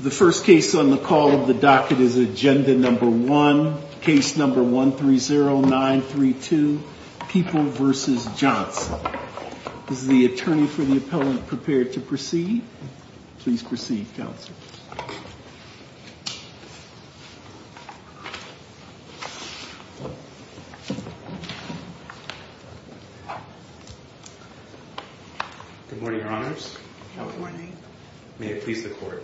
The first case on the call of the docket is Agenda No. 1, Case No. 130932, People v. Johnson. Is the attorney for the appellant prepared to proceed? Please proceed, Counselor. Good morning, Your Honors. May it please the Court.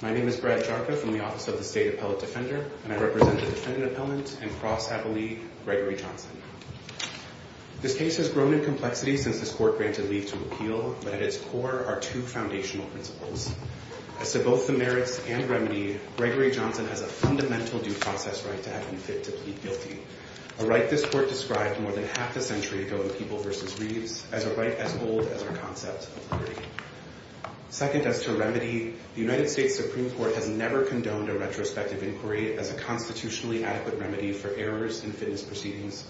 My name is Brad Jarka from the Office of the State Appellate Defender, and I represent the defendant appellant and cross-appellee Gregory Johnson. This case has grown in complexity since this Court granted leave to appeal, but at its core are two foundational principles. As to both the merits and remedy, Gregory Johnson has a fundamental due process right to have him fit to plead guilty, a right this Court described more than half a century ago in People v. Reeves as a right as old as our concept of liberty. Second, as to remedy, the United States Supreme Court has never condoned a retrospective inquiry as a constitutionally adequate remedy for errors in fitness proceedings,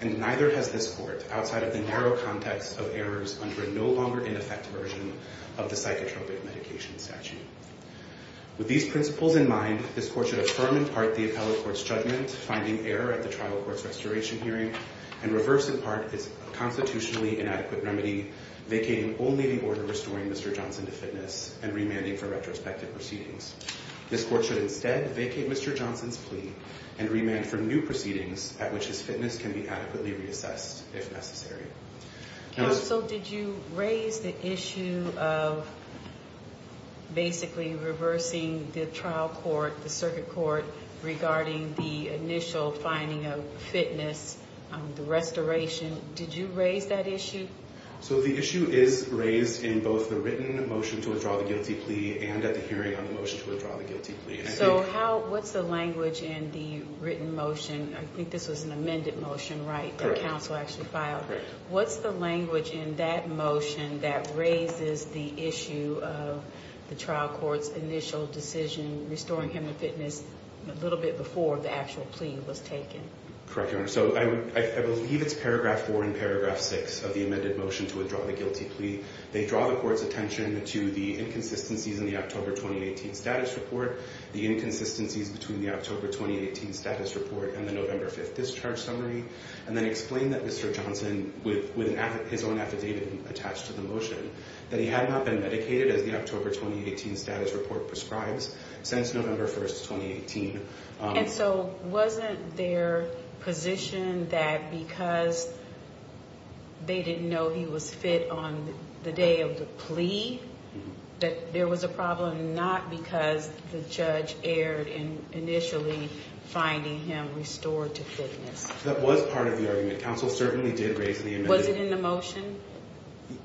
and neither has this Court outside of the narrow context of errors under a no longer in effect version of the psychotropic medication statute. With these principles in mind, this Court should affirm in part the appellate court's judgment finding error at the trial court's restoration hearing, and reverse in part its constitutionally inadequate remedy vacating only the order restoring Mr. Johnson to fitness and remanding for retrospective proceedings. This Court should instead vacate Mr. Johnson's plea and remand for new proceedings at which his fitness can be adequately reassessed if necessary. Counsel, did you raise the issue of basically reversing the trial court, the circuit court, regarding the initial finding of fitness, the restoration? Did you raise that issue? So the issue is raised in both the written motion to withdraw the guilty plea and at the hearing on the motion to withdraw the guilty plea. So what's the language in the written motion? I think this was an amended motion, right, that counsel actually filed. What's the language in that motion that raises the issue of the trial court's initial decision restoring him to fitness a little bit before the actual plea was taken? Correct, Your Honor. So I believe it's paragraph four and paragraph six of the amended motion to withdraw the guilty plea. They draw the court's attention to the inconsistencies in the October 2018 status report, the inconsistencies between the October 2018 status report and the November 5th discharge summary, and then explain that Mr. Johnson, with his own affidavit attached to the motion, that he had not been medicated as the October 2018 status report prescribes since November 1st, 2018. And so wasn't their position that because they didn't know he was fit on the day of the plea that there was a problem, not because the judge erred in initially finding him restored to fitness? That was part of the argument. Counsel certainly did raise the amendment. Was it in the motion?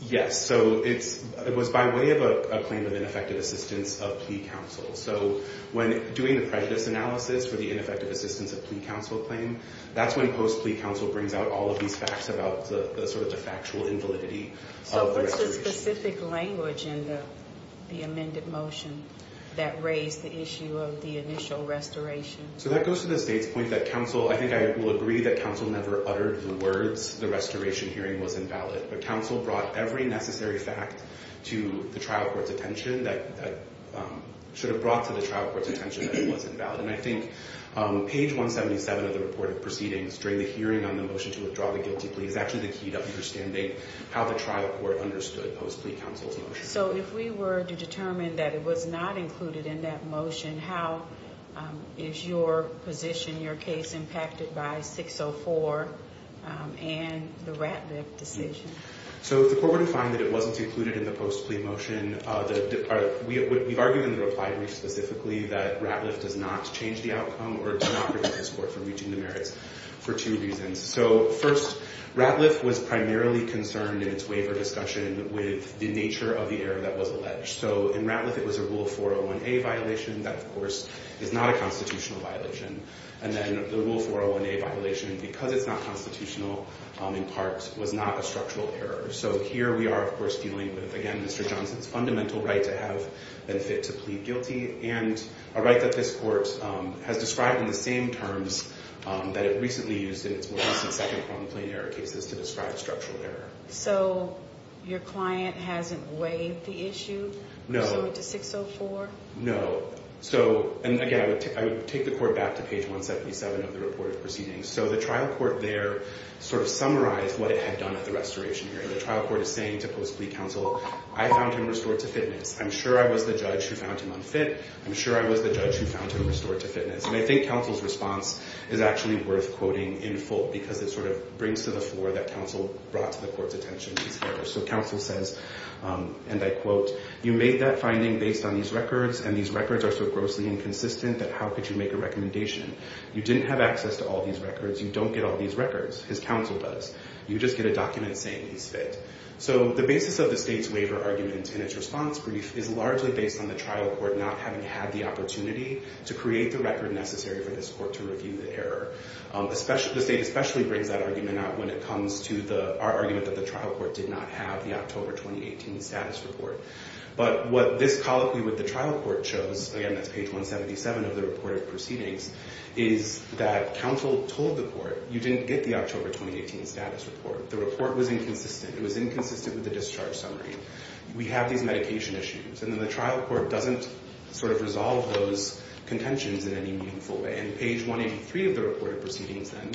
Yes. So it was by way of a claim of ineffective assistance of plea counsel. So when doing the prejudice analysis for the ineffective assistance of plea counsel claim, that's when post plea counsel brings out all of these facts about the sort of the factual invalidity of the restoration. So what's the specific language in the amended motion that raised the issue of the initial restoration? So that goes to the state's point that counsel, I think I will agree that counsel never uttered the words the restoration hearing was invalid. But counsel brought every necessary fact to the trial court's attention that should have brought to the trial court's attention that it was invalid. And I think page 177 of the report of proceedings during the hearing on the motion to withdraw the guilty plea is actually the key to understanding how the trial court understood post plea counsel's motion. So if we were to determine that it was not included in that motion, how is your position, your case, impacted by 604 and the Ratliff decision? So the court would find that it wasn't included in the post plea motion. We've argued in the reply brief specifically that Ratliff does not change the outcome or does not prevent this court from reaching the merits for two reasons. So first, Ratliff was primarily concerned in its waiver discussion with the nature of the error that was alleged. So in Ratliff, it was a Rule 401A violation. That, of course, is not a constitutional violation. And then the Rule 401A violation, because it's not constitutional, in part, was not a structural error. So here, we are, of course, dealing with, again, Mr. Johnson's fundamental right to have and fit to plead guilty and a right that this court has described in the same terms that it recently used in its more recent second complaint error cases to describe structural error. So your client hasn't waived the issue? No. So it's a 604? No. And again, I would take the court back to page 177 of the report of proceedings. So the trial court there sort of summarized what it had done at the restoration hearing. The trial court is saying to post-plea counsel, I found him restored to fitness. I'm sure I was the judge who found him unfit. I'm sure I was the judge who found him restored to fitness. And I think counsel's response is actually worth quoting in full, because it sort of brings to the floor that counsel brought to the court's attention this year. So counsel says, and I quote, you made that finding based on these records, and these records are so grossly inconsistent that how could you make a recommendation? You didn't have access to all these records. You don't get all these records. His counsel does. You just get a document saying he's fit. So the basis of the state's waiver argument in its response brief is largely based on the trial court not having had the opportunity to create the record necessary for this court to review the error. The state especially brings that argument out when it comes to our argument that the trial court did not have the October 2018 status report. But what this colloquy with the trial court shows, again, that's page 177 of the report of proceedings, is that counsel told the court, you didn't get the October 2018 status report. The report was inconsistent. It was inconsistent with the discharge summary. We have these medication issues. And then the trial court doesn't sort of resolve those contentions in any meaningful way. And page 183 of the report of proceedings then,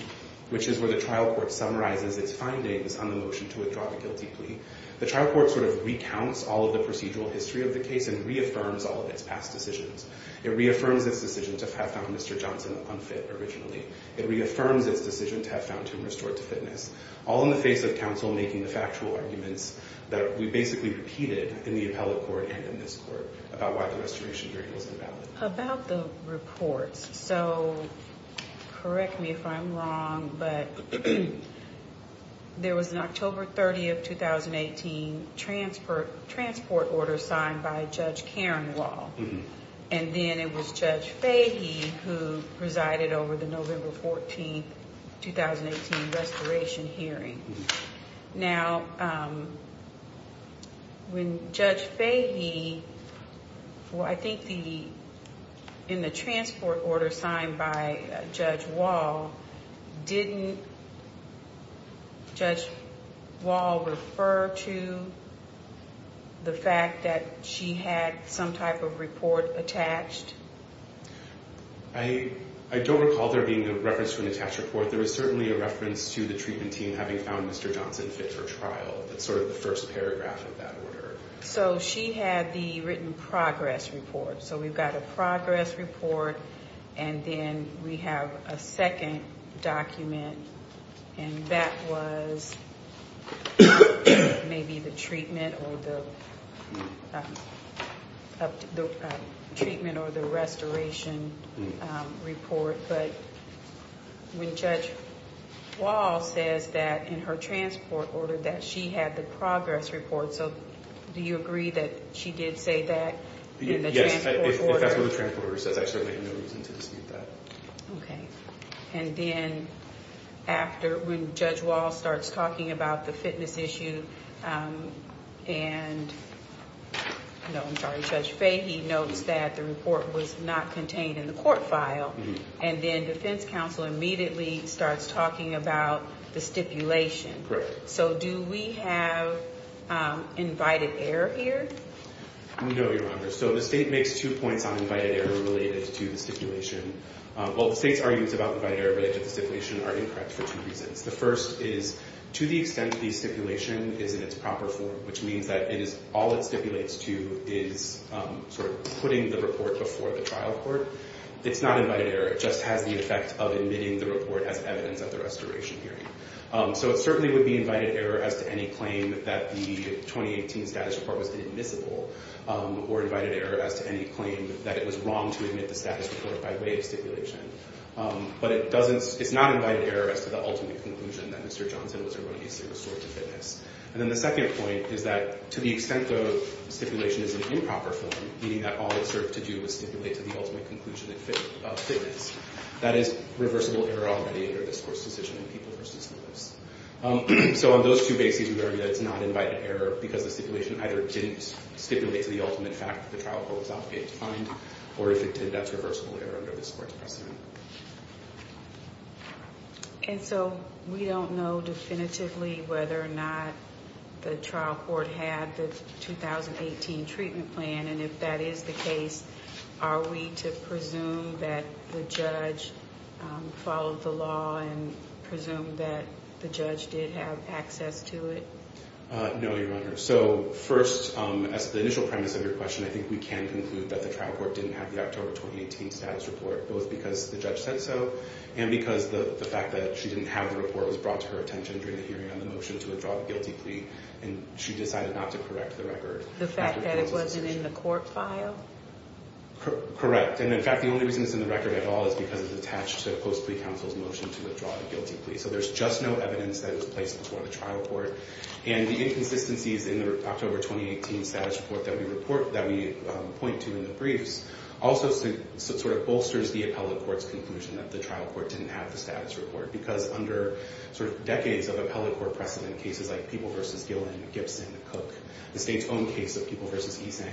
which is where the trial court summarizes its findings on the motion to withdraw the guilty plea, the trial court sort of recounts all of the proceedings. It goes through the full procedural history of the case and reaffirms all of its past decisions. It reaffirms its decision to have found Mr. Johnson unfit originally. It reaffirms its decision to have found him restored to fitness. All in the face of counsel making the factual arguments that we basically repeated in the appellate court and in this court about why the restoration period was invalid. So, correct me if I'm wrong, but there was an October 30th, 2018, transport order signed by Judge Karen Wall. And then it was Judge Fahey who presided over the November 14th, 2018, restoration hearing. Now, when Judge Fahey, I think in the transport order signed by Judge Wall, didn't Judge Wall refer to the fact that she had some type of report attached? I don't recall there being a reference to an attached report. There was certainly a reference to the treatment team having found Mr. Johnson fit for trial. That's sort of the first paragraph of that order. So, she had the written progress report. So, we've got a progress report, and then we have a second document, and that was maybe the treatment or the restoration report. But when Judge Wall says that in her transport order that she had the progress report, so do you agree that she did say that in the transport order? If that's what the transport order says, I certainly have no reason to dispute that. Okay. And then after when Judge Wall starts talking about the fitness issue and, no, I'm sorry, Judge Fahey notes that the report was not contained in the court file, and then defense counsel immediately starts talking about the stipulation. Correct. So, do we have invited error here? No, Your Honor. So, the state makes two points on invited error related to the stipulation. Well, the state's arguments about invited error related to the stipulation are incorrect for two reasons. The first is to the extent the stipulation is in its proper form, which means that all it stipulates to is sort of putting the report before the trial court, it's not invited error. It just has the effect of admitting the report as evidence at the restoration hearing. So, it certainly would be invited error as to any claim that the 2018 status report was admissible or invited error as to any claim that it was wrong to admit the status report by way of stipulation. But it's not invited error as to the ultimate conclusion that Mr. Johnson was erroneously restored to fitness. And then the second point is that to the extent the stipulation is in improper form, meaning that all it served to do was stipulate to the ultimate conclusion of fitness, that is reversible error already under this Court's decision in people versus notice. So, on those two bases, we argue that it's not invited error because the stipulation either didn't stipulate to the ultimate fact that the trial court was obligated to find, or if it did, that's reversible error under this Court's precedent. And so, we don't know definitively whether or not the trial court had the 2018 treatment plan. And if that is the case, are we to presume that the judge followed the law and presumed that the judge did have access to it? No, Your Honor. So, first, as the initial premise of your question, I think we can conclude that the trial court didn't have the October 2018 status report, both because the judge said so and because the fact that she didn't have the report was brought to her attention during the hearing on the motion to withdraw the guilty plea. And she decided not to correct the record. The fact that it wasn't in the court file? And, in fact, the only reason it's in the record at all is because it's attached to a post plea counsel's motion to withdraw the guilty plea. So, there's just no evidence that it was placed before the trial court. And the inconsistencies in the October 2018 status report that we point to in the briefs also sort of bolsters the appellate court's conclusion that the trial court didn't have the status report. Because under decades of appellate court precedent, cases like People v. Gillen, Gibson, Cook, the state's own case of People v. Esang,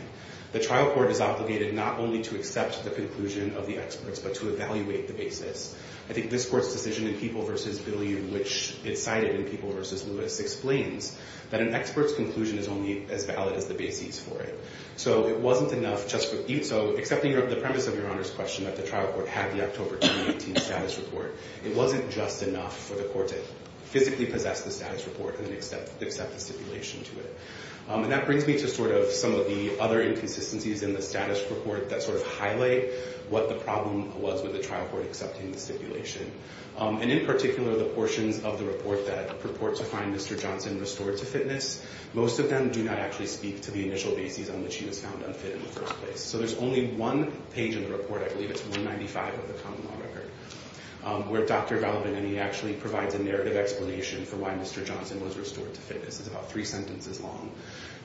the trial court is obligated not only to accept the conclusion of the experts, but to evaluate the basis. I think this court's decision in People v. Bilyeu, which it cited in People v. Lewis, explains that an expert's conclusion is only as valid as the basis for it. So, accepting the premise of Your Honor's question that the trial court had the October 2018 status report, it wasn't just enough for the court to physically possess the status report and then accept the stipulation to it. And that brings me to sort of some of the other inconsistencies in the status report that sort of highlight what the problem was with the trial court accepting the stipulation. And, in particular, the portions of the report that purport to find Mr. Johnson restored to fitness, most of them do not actually speak to the initial basis on which he was found unfit in the first place. So there's only one page in the report, I believe it's 195 of the common law record, where Dr. Valbenini actually provides a narrative explanation for why Mr. Johnson was restored to fitness. It's about three sentences long.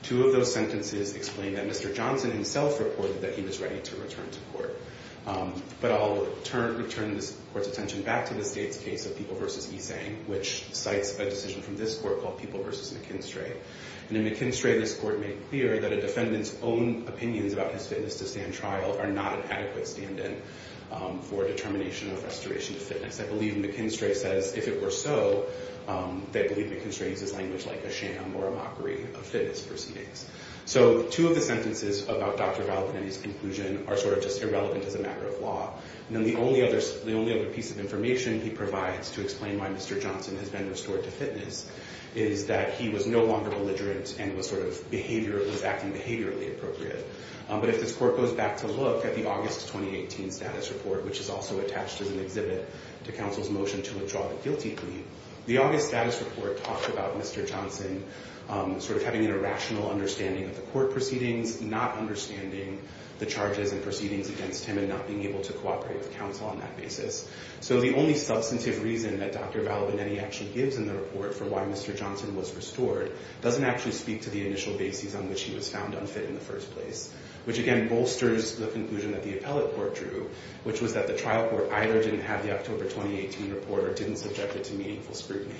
Two of those sentences explain that Mr. Johnson himself reported that he was ready to return to court. But I'll return this court's attention back to the state's case of People v. Esang, which cites a decision from this court called People v. McKinstry. And in McKinstry, this court made clear that a defendant's own opinions about his fitness to stand trial are not an adequate stand-in for determination of restoration to fitness. I believe McKinstry says if it were so, they believe McKinstry uses language like a sham or a mockery of fitness proceedings. So two of the sentences about Dr. Valbenini's conclusion are sort of just irrelevant as a matter of law. And then the only other piece of information he provides to explain why Mr. Johnson has been restored to fitness is that he was no longer belligerent and was acting behaviorally appropriate. But if this court goes back to look at the August 2018 status report, which is also attached as an exhibit to counsel's motion to withdraw the guilty plea, the August status report talks about Mr. Johnson sort of having an irrational understanding of the court proceedings, not understanding the charges and proceedings against him and not being able to cooperate with counsel on that basis. So the only substantive reason that Dr. Valbenini actually gives in the report for why Mr. Johnson was restored doesn't actually speak to the initial basis on which he was found unfit in the first place, which again bolsters the conclusion that the appellate court drew, which was that the trial court either didn't have the October 2018 report or didn't subject it to meaningful scrutiny.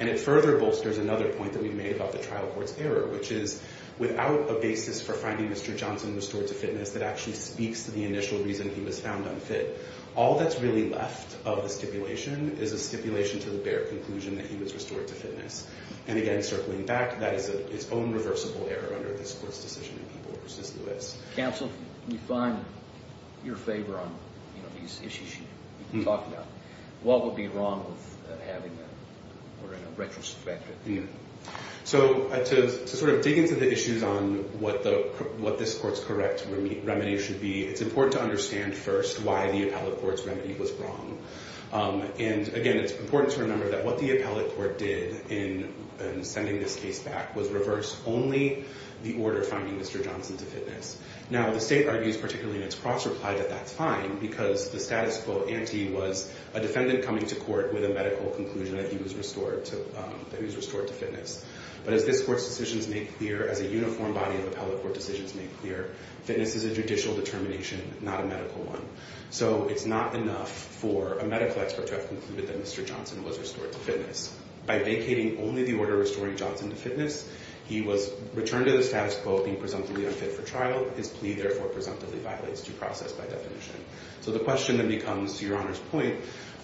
And it further bolsters another point that we've made about the trial court's error, which is without a basis for finding Mr. Johnson restored to fitness, that actually speaks to the initial reason he was found unfit. All that's really left of the stipulation is a stipulation to the bare conclusion that he was restored to fitness. And again, circling back, that is its own reversible error under this court's decision in People v. Lewis. Counsel, can you find your favor on these issues you've talked about? What would be wrong with having that order in a retrospective unit? So to sort of dig into the issues on what this court's correct remedy should be, it's important to understand first why the appellate court's remedy was wrong. And again, it's important to remember that what the appellate court did in sending this case back was reverse only the order finding Mr. Johnson to fitness. Now, the state argues, particularly in its cross-reply, that that's fine, because the status quo ante was a defendant coming to court with a medical conclusion that he was restored to fitness. But as this court's decisions make clear, as a uniform body of appellate court decisions make clear, fitness is a judicial determination, not a medical one. So it's not enough for a medical expert to have concluded that Mr. Johnson was restored to fitness. By vacating only the order restoring Johnson to fitness, he was returned to the status quo being presumptively unfit for trial. His plea, therefore, presumptively violates due process by definition. So the question then becomes, to Your Honor's point,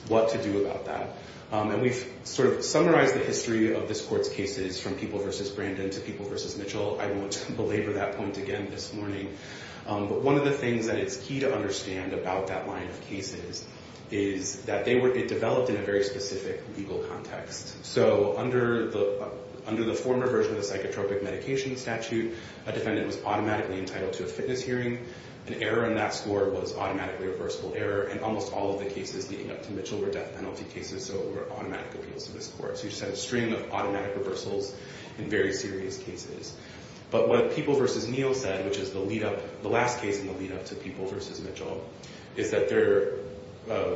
what to do about that? And we've sort of summarized the history of this court's cases from People v. Brandon to People v. Mitchell. I won't belabor that point again this morning. But one of the things that it's key to understand about that line of cases is that it developed in a very specific legal context. So under the former version of the psychotropic medication statute, a defendant was automatically entitled to a fitness hearing. An error in that score was automatically a reversible error, and almost all of the cases leading up to Mitchell were death penalty cases, so it were automatic appeals to this court. So you just had a string of automatic reversals in very serious cases. But what People v. Neal said, which is the lead-up, the last case in the lead-up to People v. Mitchell, is that their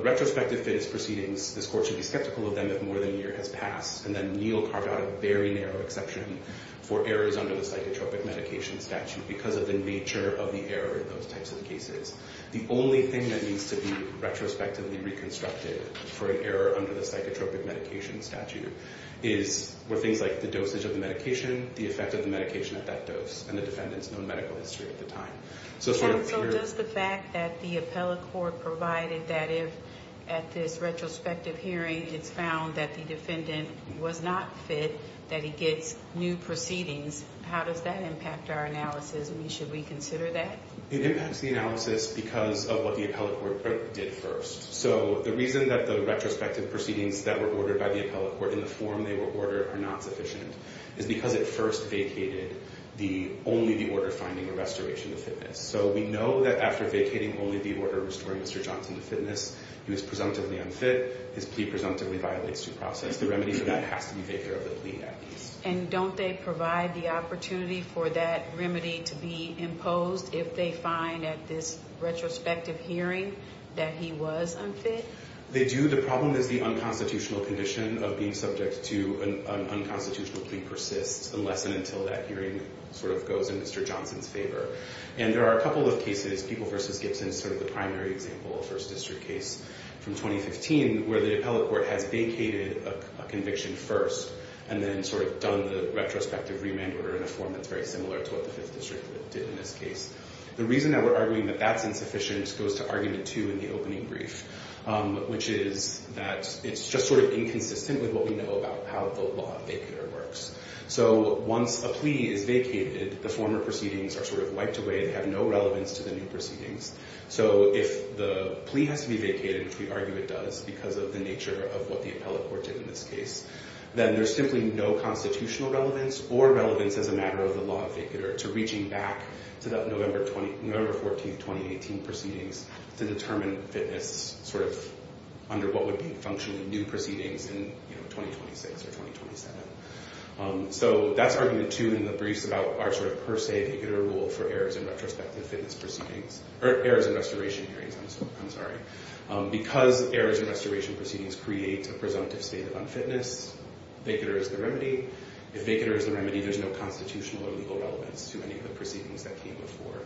retrospective fitness proceedings, this court should be skeptical of them if more than a year has passed. And then Neal carved out a very narrow exception for errors under the psychotropic medication statute because of the nature of the error in those types of cases. The only thing that needs to be retrospectively reconstructed for an error under the psychotropic medication statute were things like the dosage of the medication, the effect of the medication at that dose, and the defendant's known medical history at the time. So does the fact that the appellate court provided that if, at this retrospective hearing, it's found that the defendant was not fit, that he gets new proceedings, how does that impact our analysis? Should we consider that? It impacts the analysis because of what the appellate court did first. So the reason that the retrospective proceedings that were ordered by the appellate court in the form they were ordered are not sufficient is because it first vacated only the order finding a restoration of fitness. So we know that after vacating only the order restoring Mr. Johnson to fitness, he was presumptively unfit. His plea presumptively violates due process. The remedy for that has to be vigor of the plea, at least. And don't they provide the opportunity for that remedy to be imposed if they find at this retrospective hearing that he was unfit? They do. The problem is the unconstitutional condition of being subject to an unconstitutional plea persists unless and until that hearing sort of goes in Mr. Johnson's favor. And there are a couple of cases. People v. Gibson is sort of the primary example, a First District case from 2015, where the appellate court has vacated a conviction first and then sort of done the retrospective remand order in a form that's very similar to what the Fifth District did in this case. The reason that we're arguing that that's insufficient goes to argument two in the opening brief, which is that it's just sort of inconsistent with what we know about how the law of vacator works. So once a plea is vacated, the former proceedings are sort of wiped away. They have no relevance to the new proceedings. So if the plea has to be vacated, which we argue it does because of the nature of what the appellate court did in this case, then there's simply no constitutional relevance or relevance as a matter of the law of vacator to reaching back to the November 14th, 2018 proceedings to determine fitness sort of under what would be functionally new proceedings in 2026 or 2027. So that's argument two in the briefs about our sort of per se vacator rule for errors in retrospective fitness proceedings. Errors in restoration hearings, I'm sorry. Because errors in restoration proceedings create a presumptive state of unfitness, vacator is the remedy. If vacator is the remedy, there's no constitutional or legal relevance to any of the proceedings that came before.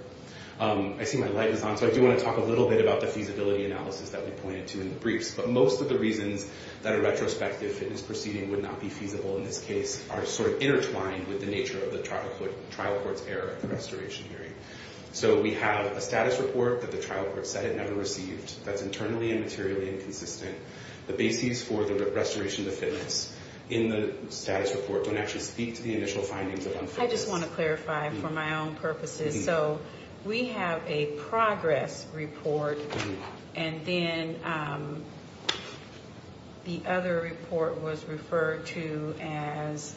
I see my light is on, so I do want to talk a little bit about the feasibility analysis that we pointed to in the briefs. But most of the reasons that a retrospective fitness proceeding would not be feasible in this case are sort of intertwined with the nature of the trial court's error at the restoration hearing. So we have a status report that the trial court said it never received that's internally and materially inconsistent. The bases for the restoration of the fitness in the status report don't actually speak to the initial findings of unfitness. I just want to clarify for my own purposes. So we have a progress report, and then the other report was referred to as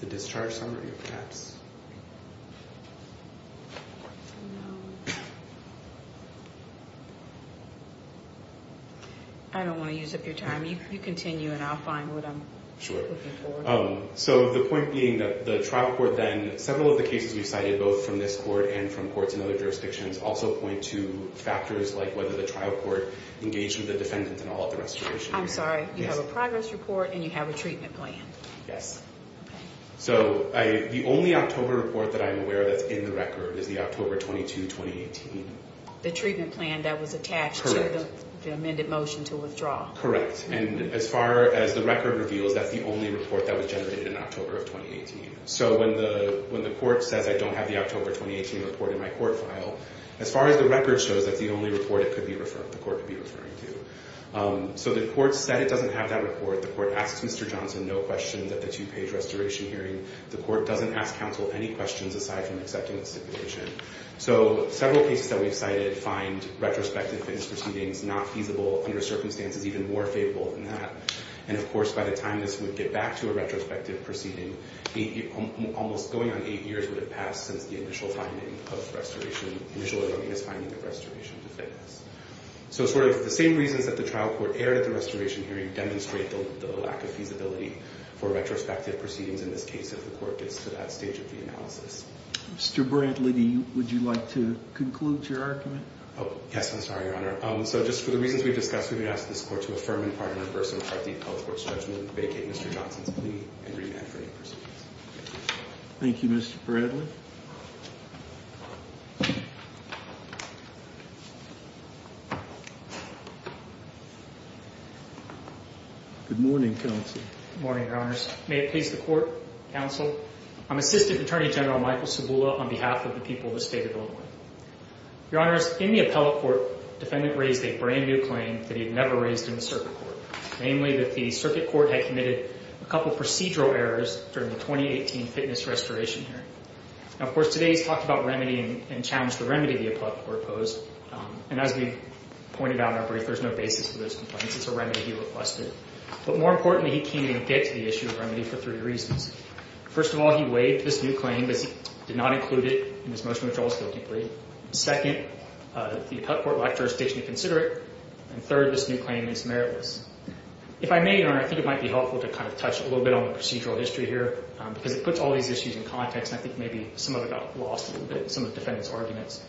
the discharge summary, perhaps. I don't want to use up your time. You continue, and I'll find what I'm looking for. So the point being that the trial court then, several of the cases we cited both from this court and from courts in other jurisdictions also point to factors like whether the trial court engaged with the defendant in all of the restoration hearings. I'm sorry. You have a progress report, and you have a treatment plan. Yes. Okay. So the only October report that I'm aware of that's in the record is the October 22, 2018. The treatment plan that was attached to the amended motion to withdraw. Correct. And as far as the record reveals, that's the only report that was generated in October of 2018. So when the court says I don't have the October 2018 report in my court file, as far as the record shows, that's the only report the court could be referring to. So the court said it doesn't have that report. The court asks Mr. Johnson no questions at the two-page restoration hearing. The court doesn't ask counsel any questions aside from accepting a stipulation. So several cases that we've cited find retrospective fitness proceedings not feasible under circumstances even more favorable than that. And, of course, by the time this would get back to a retrospective proceeding, almost going on eight years would have passed since the initial finding of restoration, the initial erroneous finding of restoration to fitness. So sort of the same reasons that the trial court erred at the restoration hearing demonstrate the lack of feasibility for retrospective proceedings in this case if the court gets to that stage of the analysis. Mr. Bradley, would you like to conclude your argument? Yes, I'm sorry, Your Honor. So just for the reasons we've discussed, we would ask this court to affirm in part and in reverse in part the health court's judgment, vacate Mr. Johnson's plea, and remand for any proceedings. Thank you, Mr. Bradley. Good morning, counsel. Good morning, Your Honors. May it please the court, counsel, I'm Assistant Attorney General Michael Cibula on behalf of the people of the state of Illinois. Your Honors, in the appellate court, the defendant raised a brand-new claim that he had never raised in the circuit court, namely that the circuit court had committed a couple of procedural errors during the 2018 fitness restoration hearing. Now, of course, today he's talked about remedy and challenged the remedy the appellate court posed, and as we've pointed out in our brief, there's no basis for those complaints. It's a remedy he requested. But more importantly, he came to get to the issue of remedy for three reasons. First of all, he waived this new claim because he did not include it in his motion of withdrawals guilty plea. Second, the appellate court lectured us to consider it. And third, this new claim is meritless. If I may, Your Honor, I think it might be helpful to kind of touch a little bit on the procedural history here because it puts all these issues in context, and I think maybe some of it got lost a little bit in some of the defendant's arguments.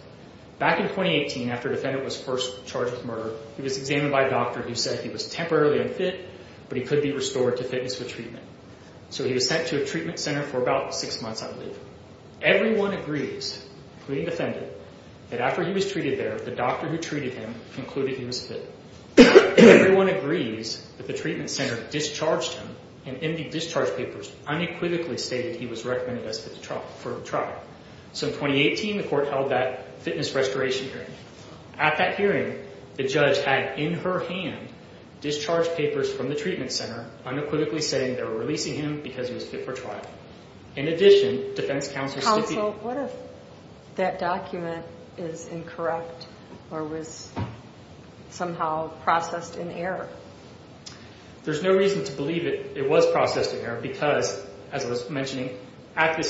Back in 2018, after the defendant was first charged with murder, he was examined by a doctor who said he was temporarily unfit, but he could be restored to fitness with treatment. So he was sent to a treatment center for about six months, I believe. Everyone agrees, including the defendant, that after he was treated there, the doctor who treated him concluded he was fit. Everyone agrees that the treatment center discharged him, and in the discharge papers, unequivocally stated he was recommended for trial. So in 2018, the court held that fitness restoration hearing. At that hearing, the judge had, in her hand, discharged papers from the treatment center, unequivocally saying they were releasing him because he was fit for trial. In addition, defense counsel... Counsel, what if that document is incorrect or was somehow processed in error? There's no reason to believe it was processed in error because, as I was mentioning, at the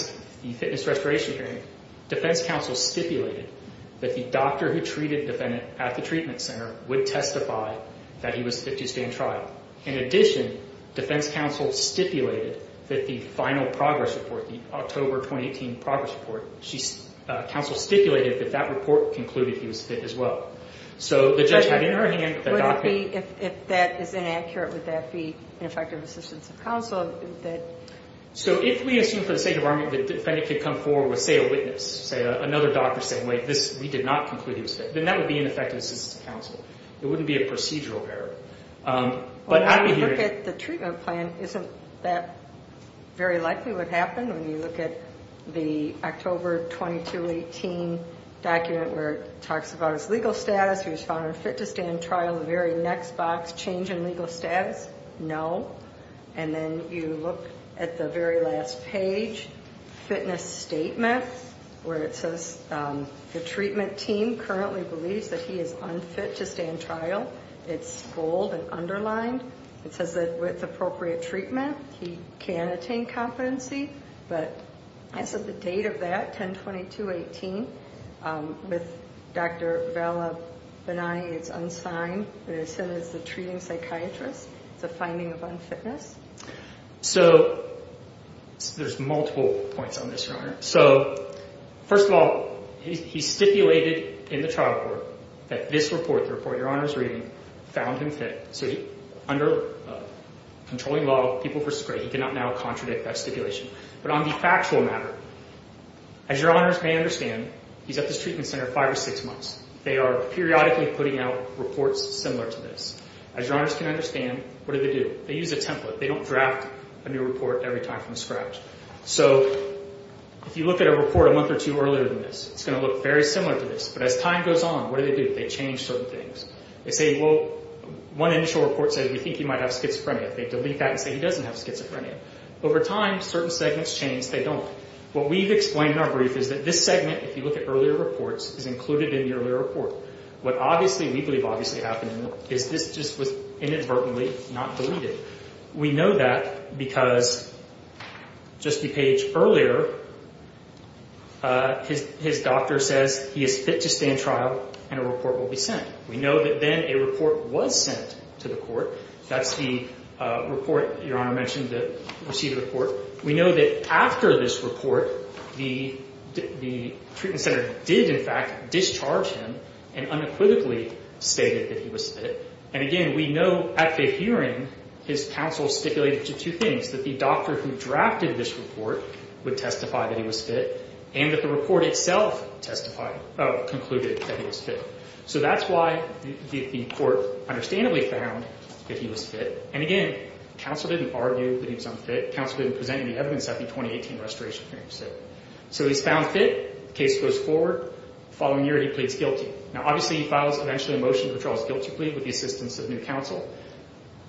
fitness restoration hearing, defense counsel stipulated that the doctor who treated the defendant at the treatment center would testify that he was fit to stand trial. In addition, defense counsel stipulated that the final progress report, the October 2018 progress report, counsel stipulated that that report concluded he was fit as well. So the judge had in her hand the document... If that is inaccurate, would that be ineffective assistance of counsel? So if we assume for the sake of argument that the defendant could come forward with, say, a witness, say another doctor saying, wait, we did not conclude he was fit, then that would be ineffective assistance of counsel. It wouldn't be a procedural error. But I would hear... When you look at the treatment plan, isn't that very likely what happened? When you look at the October 2018 document where it talks about his legal status, he was found unfit to stand trial, the very next box, change in legal status, no. And then you look at the very last page, fitness statement, where it says the treatment team currently believes that he is unfit to stand trial. It's bold and underlined. It says that with appropriate treatment, he can attain competency. But as of the date of that, 10-22-18, with Dr. Vallabhani, it's unsigned. And it says the treating psychiatrist, it's a finding of unfitness. So there's multiple points on this, Your Honor. So first of all, he stipulated in the trial court that this report, the report Your Honor is reading, found him fit. So under controlling law, people versus great, he cannot now contradict that stipulation. But on the factual matter, as Your Honors may understand, he's at this treatment center five or six months. They are periodically putting out reports similar to this. As Your Honors can understand, what do they do? They use a template. They don't draft a new report every time from scratch. So if you look at a report a month or two earlier than this, it's going to look very similar to this. But as time goes on, what do they do? They change certain things. They say, well, one initial report says we think he might have schizophrenia. They delete that and say he doesn't have schizophrenia. Over time, certain segments change. They don't. What we've explained in our brief is that this segment, if you look at earlier reports, is included in the earlier report. What obviously we believe obviously happened is this just was inadvertently not deleted. We know that because just a page earlier, his doctor says he is fit to stay in trial and a report will be sent. We know that then a report was sent to the court. That's the report Your Honor mentioned that received the court. We know that after this report, the treatment center did, in fact, discharge him and unequivocally stated that he was fit. And again, we know at the hearing his counsel stipulated two things, that the doctor who drafted this report would testify that he was fit and that the report itself concluded that he was fit. So that's why the court understandably found that he was fit. And again, counsel didn't argue that he was unfit. Counsel didn't present any evidence at the 2018 restoration hearing. So he's found fit. Case goes forward. The following year, he pleads guilty. Now, obviously, he files eventually a motion to withdraw his guilty plea with the assistance of new counsel.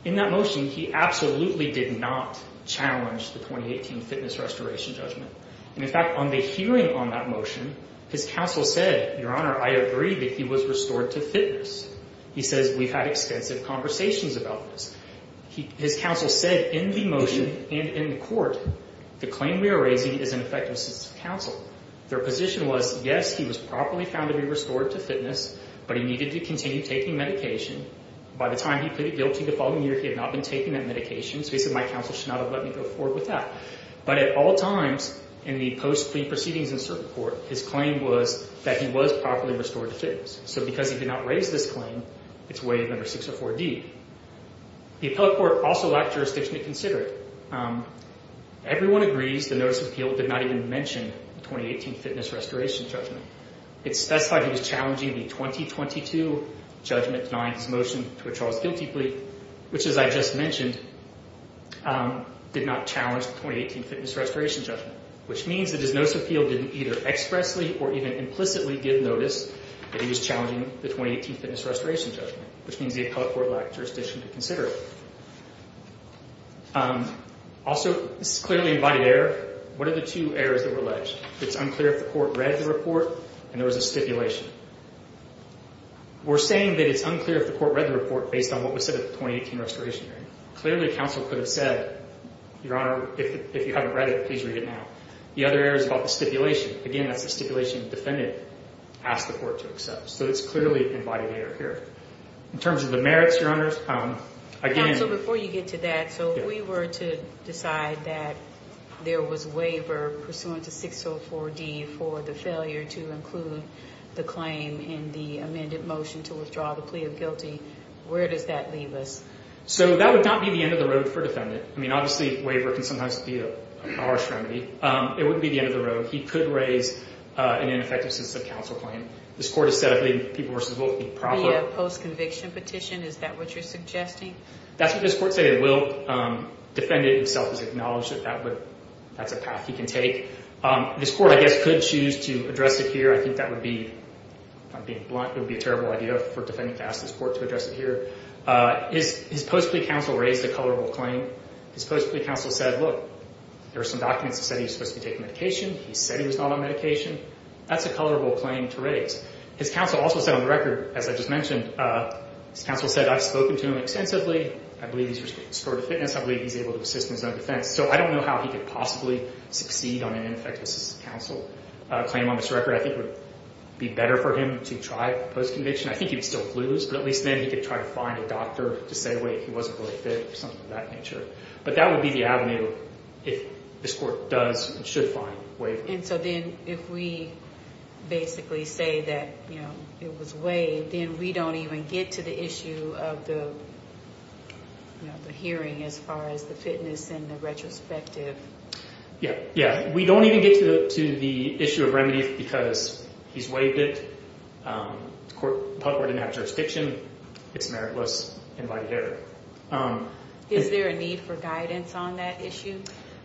In that motion, he absolutely did not challenge the 2018 fitness restoration judgment. And, in fact, on the hearing on that motion, his counsel said, Your Honor, I agree that he was restored to fitness. He says we've had extensive conversations about this. His counsel said in the motion and in the court, the claim we are raising is an effective assistance of counsel. Their position was, yes, he was properly found to be restored to fitness, but he needed to continue taking medication. By the time he pleaded guilty the following year, he had not been taking that medication. So he said my counsel should not have let me go forward with that. But at all times in the post-plea proceedings in circuit court, his claim was that he was properly restored to fitness. So because he did not raise this claim, it's waived under 604D. The appellate court also lacked jurisdiction to consider it. Everyone agrees the notice of appeal did not even mention the 2018 fitness restoration judgment. It specified he was challenging the 2022 judgment denying his motion to withdraw his guilty plea, which, as I just mentioned, did not challenge the 2018 fitness restoration judgment, which means that his notice of appeal didn't either expressly or even implicitly give notice that he was challenging the 2018 fitness restoration judgment, which means the appellate court lacked jurisdiction to consider it. Also, this is clearly an embodied error. What are the two errors that were alleged? It's unclear if the court read the report and there was a stipulation. We're saying that it's unclear if the court read the report based on what was said at the 2018 restoration hearing. Clearly, counsel could have said, Your Honor, if you haven't read it, please read it now. The other error is about the stipulation. Again, that's the stipulation the defendant asked the court to accept. So it's clearly an embodied error here. In terms of the merits, Your Honors, again— Counsel, before you get to that, so if we were to decide that there was waiver pursuant to 604D for the failure to include the claim in the amended motion to withdraw the plea of guilty, where does that leave us? So that would not be the end of the road for a defendant. I mean, obviously, waiver can sometimes be a harsh remedy. It wouldn't be the end of the road. He could raise an ineffective sense of counsel claim. This court has said, I believe, people versus will be proper. The post-conviction petition, is that what you're suggesting? That's what this court said it will. Defendant himself has acknowledged that that's a path he can take. This court, I guess, could choose to address it here. I think that would be—if I'm being blunt, it would be a terrible idea for a defendant to ask this court to address it here. His post-plea counsel raised a colorable claim. His post-plea counsel said, look, there are some documents that said he was supposed to be taking medication. He said he was not on medication. That's a colorable claim to raise. His counsel also said on the record, as I just mentioned, his counsel said, I've spoken to him extensively. I believe he's restored to fitness. I believe he's able to assist in his own defense. So I don't know how he could possibly succeed on an ineffective sense of counsel claim on this record. I think it would be better for him to try post-conviction. I think he would still lose, but at least then he could try to find a doctor to say, wait, he wasn't really fit or something of that nature. But that would be the avenue if this court does and should find waivers. And so then if we basically say that it was waived, then we don't even get to the issue of the hearing as far as the fitness and the retrospective. Yeah. We don't even get to the issue of remedies because he's waived it. The public court didn't have jurisdiction. It's meritless, invited error. Is there a need for guidance on that issue?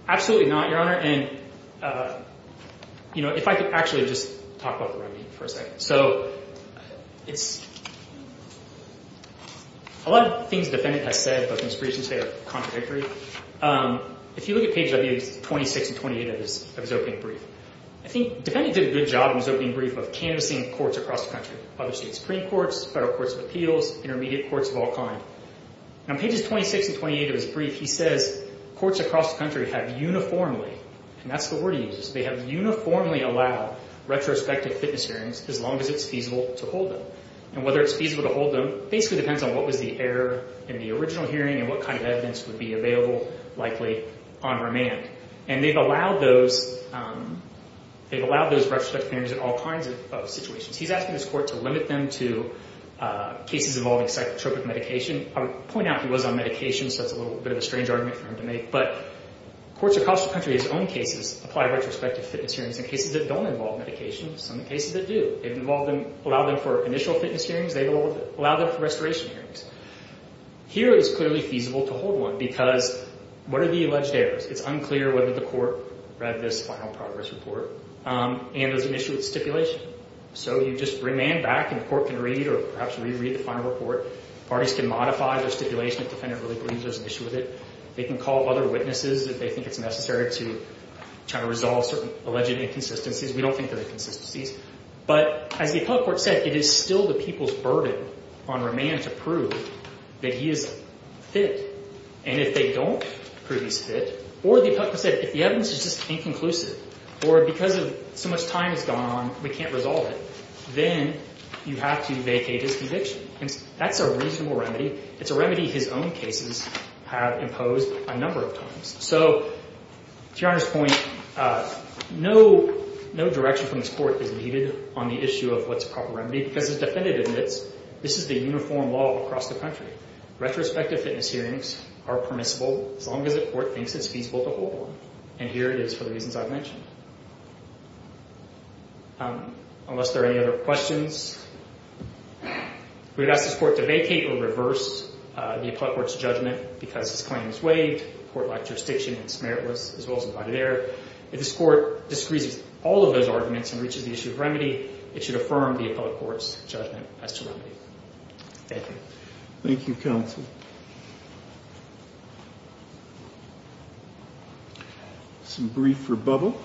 Absolutely not, Your Honor. And if I could actually just talk about the remedy for a second. So a lot of things the defendant has said, but the most recent say are contradictory. If you look at pages 26 and 28 of his opening brief, I think the defendant did a good job in his opening brief of canvassing courts across the country, other state supreme courts, federal courts of appeals, intermediate courts of all kind. On pages 26 and 28 of his brief, he says courts across the country have uniformly, and that's the word he uses, they have uniformly allowed retrospective fitness hearings as long as it's feasible to hold them. And whether it's feasible to hold them basically depends on what was the error in the original hearing and what kind of evidence would be available likely on remand. And they've allowed those retrospective hearings in all kinds of situations. He's asking his court to limit them to cases involving psychotropic medication. I would point out he was on medication, so that's a little bit of a strange argument for him to make. But courts across the country, his own cases, apply retrospective fitness hearings in cases that don't involve medication. Some cases that do. They've allowed them for initial fitness hearings. They've allowed them for restoration hearings. Here it is clearly feasible to hold one because what are the alleged errors? It's unclear whether the court read this final progress report and there's an issue with stipulation. So you just remand back and the court can read or perhaps reread the final report. Parties can modify their stipulation if the defendant really believes there's an issue with it. They can call other witnesses if they think it's necessary to try to resolve certain alleged inconsistencies. We don't think there are inconsistencies. But as the appellate court said, it is still the people's burden on remand to prove that he is fit. And if they don't prove he's fit, or the appellate could say, if the evidence is just inconclusive, or because so much time has gone on, we can't resolve it, then you have to vacate his conviction. That's a reasonable remedy. It's a remedy his own cases have imposed a number of times. So to Your Honor's point, no direction from this court is needed on the issue of what's a proper remedy because the defendant admits this is the uniform law across the country. Retrospective fitness hearings are permissible as long as the court thinks it's feasible to hold one. And here it is for the reasons I've mentioned. Unless there are any other questions, we would ask this court to vacate or reverse the appellate court's judgment because his claim is waived. The court lacked jurisdiction and it's meritless, as well as invited error. If this court disagrees with all of those arguments and reaches the issue of remedy, it should affirm the appellate court's judgment as to remedy. Thank you. Thank you, counsel. Some brief rebubble.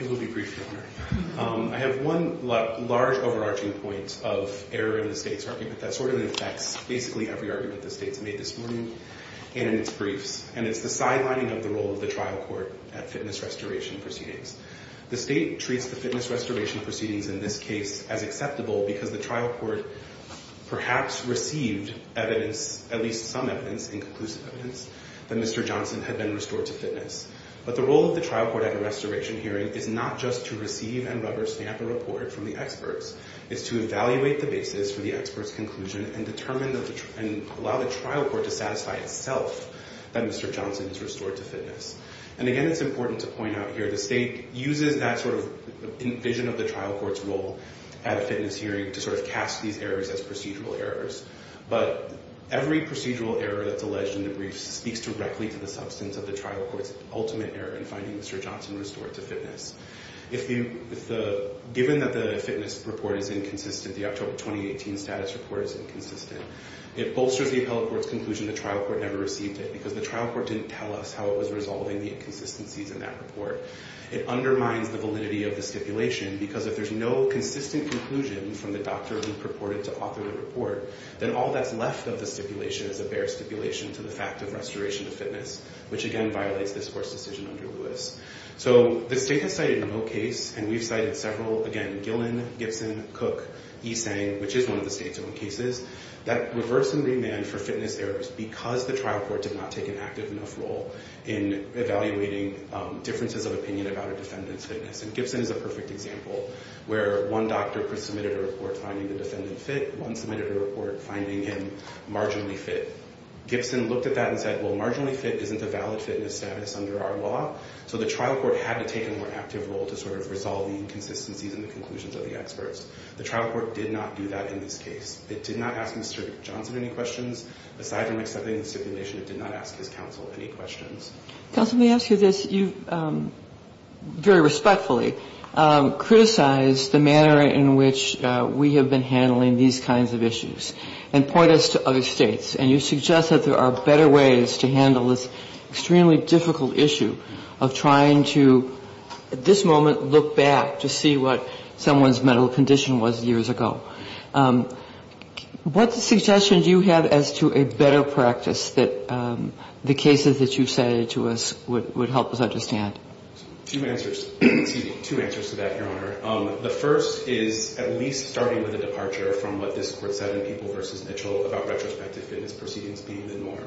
It will be brief, Your Honor. I have one large overarching point of error in the state's argument that sort of affects basically every argument the state's made this morning and in its briefs, and it's the sidelining of the role of the trial court at fitness restoration proceedings. The state treats the fitness restoration proceedings in this case as acceptable because the trial court perhaps received evidence, at least some evidence, inconclusive evidence, that Mr. Johnson had been restored to fitness. But the role of the trial court at a restoration hearing is not just to receive and rubber stamp a report from the experts. It's to evaluate the basis for the expert's conclusion and allow the trial court to satisfy itself that Mr. Johnson is restored to fitness. And, again, it's important to point out here the state uses that sort of vision of the trial court's role at a fitness hearing to sort of cast these errors as procedural errors. But every procedural error that's alleged in the briefs speaks directly to the substance of the trial court's ultimate error in finding Mr. Johnson restored to fitness. Given that the fitness report is inconsistent, the October 2018 status report is inconsistent, it bolsters the appellate court's conclusion the trial court never received it because the trial court didn't tell us how it was resolving the inconsistencies in that report. It undermines the validity of the stipulation because if there's no consistent conclusion from the doctor who purported to author the report, then all that's left of the stipulation is a bare stipulation to the fact of restoration to fitness, which, again, violates this court's decision under Lewis. So the state has cited no case, and we've cited several, again, Gillen, Gibson, Cook, E. Tsang, which is one of the state's own cases, that reverse and remand for fitness errors because the trial court did not take an active enough role in evaluating differences of opinion about a defendant's fitness. And Gibson is a perfect example where one doctor pre-submitted a report finding the defendant fit, one submitted a report finding him marginally fit. Gibson looked at that and said, well, marginally fit isn't a valid fitness status under our law, so the trial court had to take a more active role to sort of resolve the inconsistencies in the conclusions of the experts. The trial court did not do that in this case. It did not ask Mr. Johnson any questions. Aside from accepting the stipulation, it did not ask his counsel any questions. Kagan. Counsel, may I ask you this? You very respectfully criticized the manner in which we have been handling these kinds of issues and point us to other states. And you suggest that there are better ways to handle this extremely difficult issue of trying to, at this moment, look back to see what someone's mental condition was years ago. What suggestions do you have as to a better practice that the cases that you cited to us would help us understand? Two answers. Two answers to that, Your Honor. The first is at least starting with a departure from what this court said in Peeble v. Mitchell about retrospective fitness proceedings being the norm.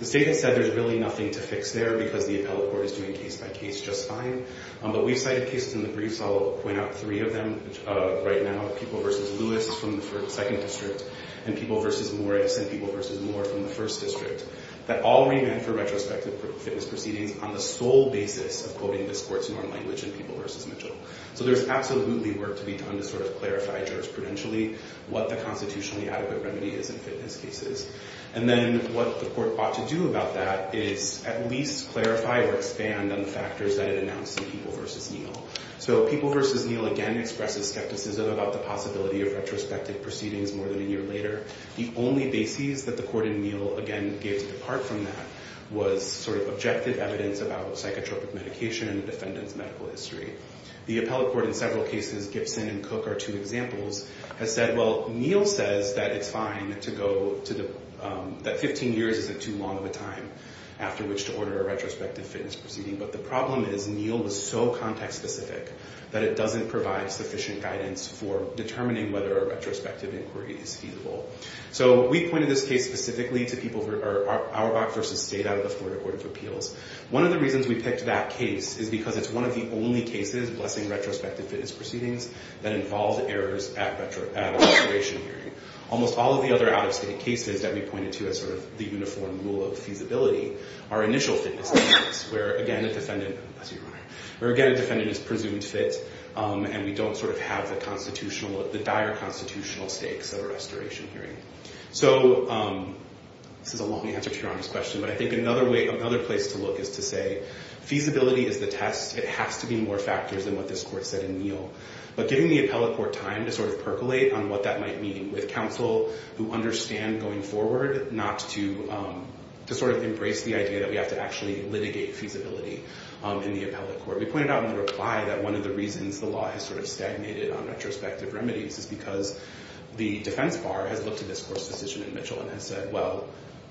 The state has said there's really nothing to fix there because the appellate court is doing case by case just fine. But we've cited cases in the briefs. I'll point out three of them right now, Peeble v. Lewis from the second district and Peeble v. Morris and Peeble v. Moore from the first district, that all remand for retrospective fitness proceedings on the sole basis of quoting this court's norm language in Peeble v. Mitchell. So there's absolutely work to be done to sort of clarify jurisprudentially what the constitutionally adequate remedy is in fitness cases. And then what the court ought to do about that is at least clarify or expand on the factors that it announced in Peeble v. Neal. So Peeble v. Neal again expresses skepticism about the possibility of retrospective proceedings more than a year later. The only basis that the court in Neal again gave to depart from that was sort of objective evidence about psychotropic medication and defendant's medical history. The appellate court in several cases, Gibson and Cook are two examples, has said, well, Neal says that it's fine to go to the – that 15 years isn't too long of a time after which to order a retrospective fitness proceeding. But the problem is Neal was so context specific that it doesn't provide sufficient guidance for determining whether a retrospective inquiry is feasible. So we pointed this case specifically to people who are Auerbach v. State out of the Florida Court of Appeals. One of the reasons we picked that case is because it's one of the only cases, blessing retrospective fitness proceedings, that involves errors at a restoration hearing. Almost all of the other out-of-state cases that we pointed to as sort of the uniform rule of feasibility are initial fitness cases where, again, a defendant – excuse me, Your Honor – where, again, a defendant is presumed fit and we don't sort of have the constitutional – the dire constitutional stakes of a restoration hearing. So this is a long answer to Your Honor's question, but I think another way – another place to look is to say feasibility is the test. It has to be more factors than what this court said in Neal. But giving the appellate court time to sort of percolate on what that might mean with counsel who understand going forward not to – to sort of embrace the idea that we have to actually litigate feasibility in the appellate court. We pointed out in the reply that one of the reasons the law has sort of stagnated on retrospective remedies is because the defense bar has looked at this court's decision in Mitchell and has said, well,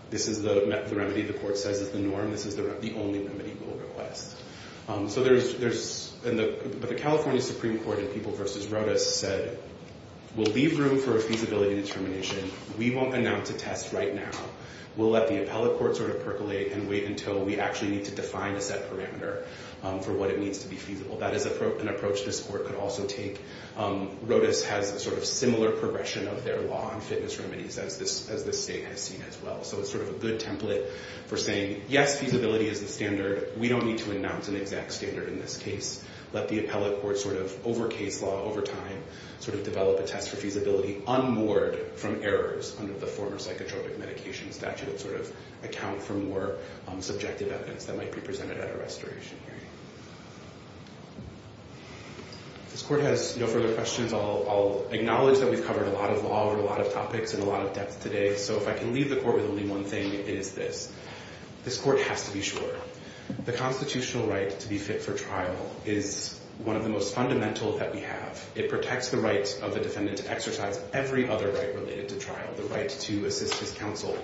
this is the remedy the court says is the norm. This is the only remedy we'll request. So there's – but the California Supreme Court in People v. Rodas said, we'll leave room for a feasibility determination. We won't announce a test right now. We'll let the appellate court sort of percolate and wait until we actually need to define a set parameter for what it means to be feasible. That is an approach this court could also take. Rodas has a sort of similar progression of their law on fitness remedies as this state has seen as well. So it's sort of a good template for saying, yes, feasibility is the standard. We don't need to announce an exact standard in this case. Let the appellate court sort of, over case law, over time, sort of develop a test for feasibility unmoored from errors under the former psychotropic medication statute that sort of account for more subjective evidence that might be presented at a restoration hearing. If this court has no further questions, I'll acknowledge that we've covered a lot of law over a lot of topics and a lot of depth today. So if I can leave the court with only one thing, it is this. This court has to be sure. The constitutional right to be fit for trial is one of the most fundamental that we have. It protects the rights of the defendant to exercise every other right related to trial. The right to assist his counsel.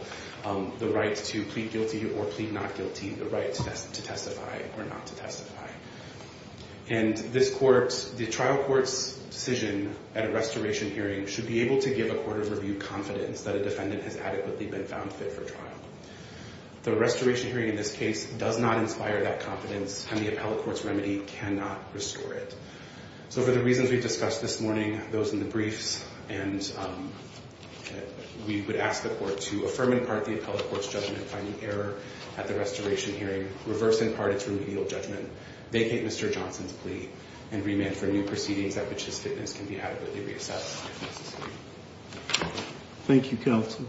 The right to plead guilty or plead not guilty. The right to testify or not to testify. And this court, the trial court's decision at a restoration hearing should be able to give a court of review confidence that a defendant has adequately been found fit for trial. The restoration hearing in this case does not inspire that confidence, and the appellate court's remedy cannot restore it. So for the reasons we discussed this morning, those in the briefs, and we would ask the court to affirm in part the appellate court's judgment on the error at the restoration hearing, reverse in part its remedial judgment, vacate Mr. Johnson's plea, and remand for new proceedings at which his fitness can be adequately reassessed if necessary. Thank you, counsel.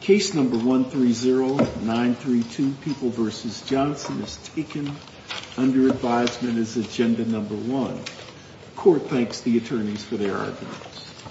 Case number 130932, People v. Johnson, is taken under advisement as agenda number one. Court thanks the attorneys for their arguments.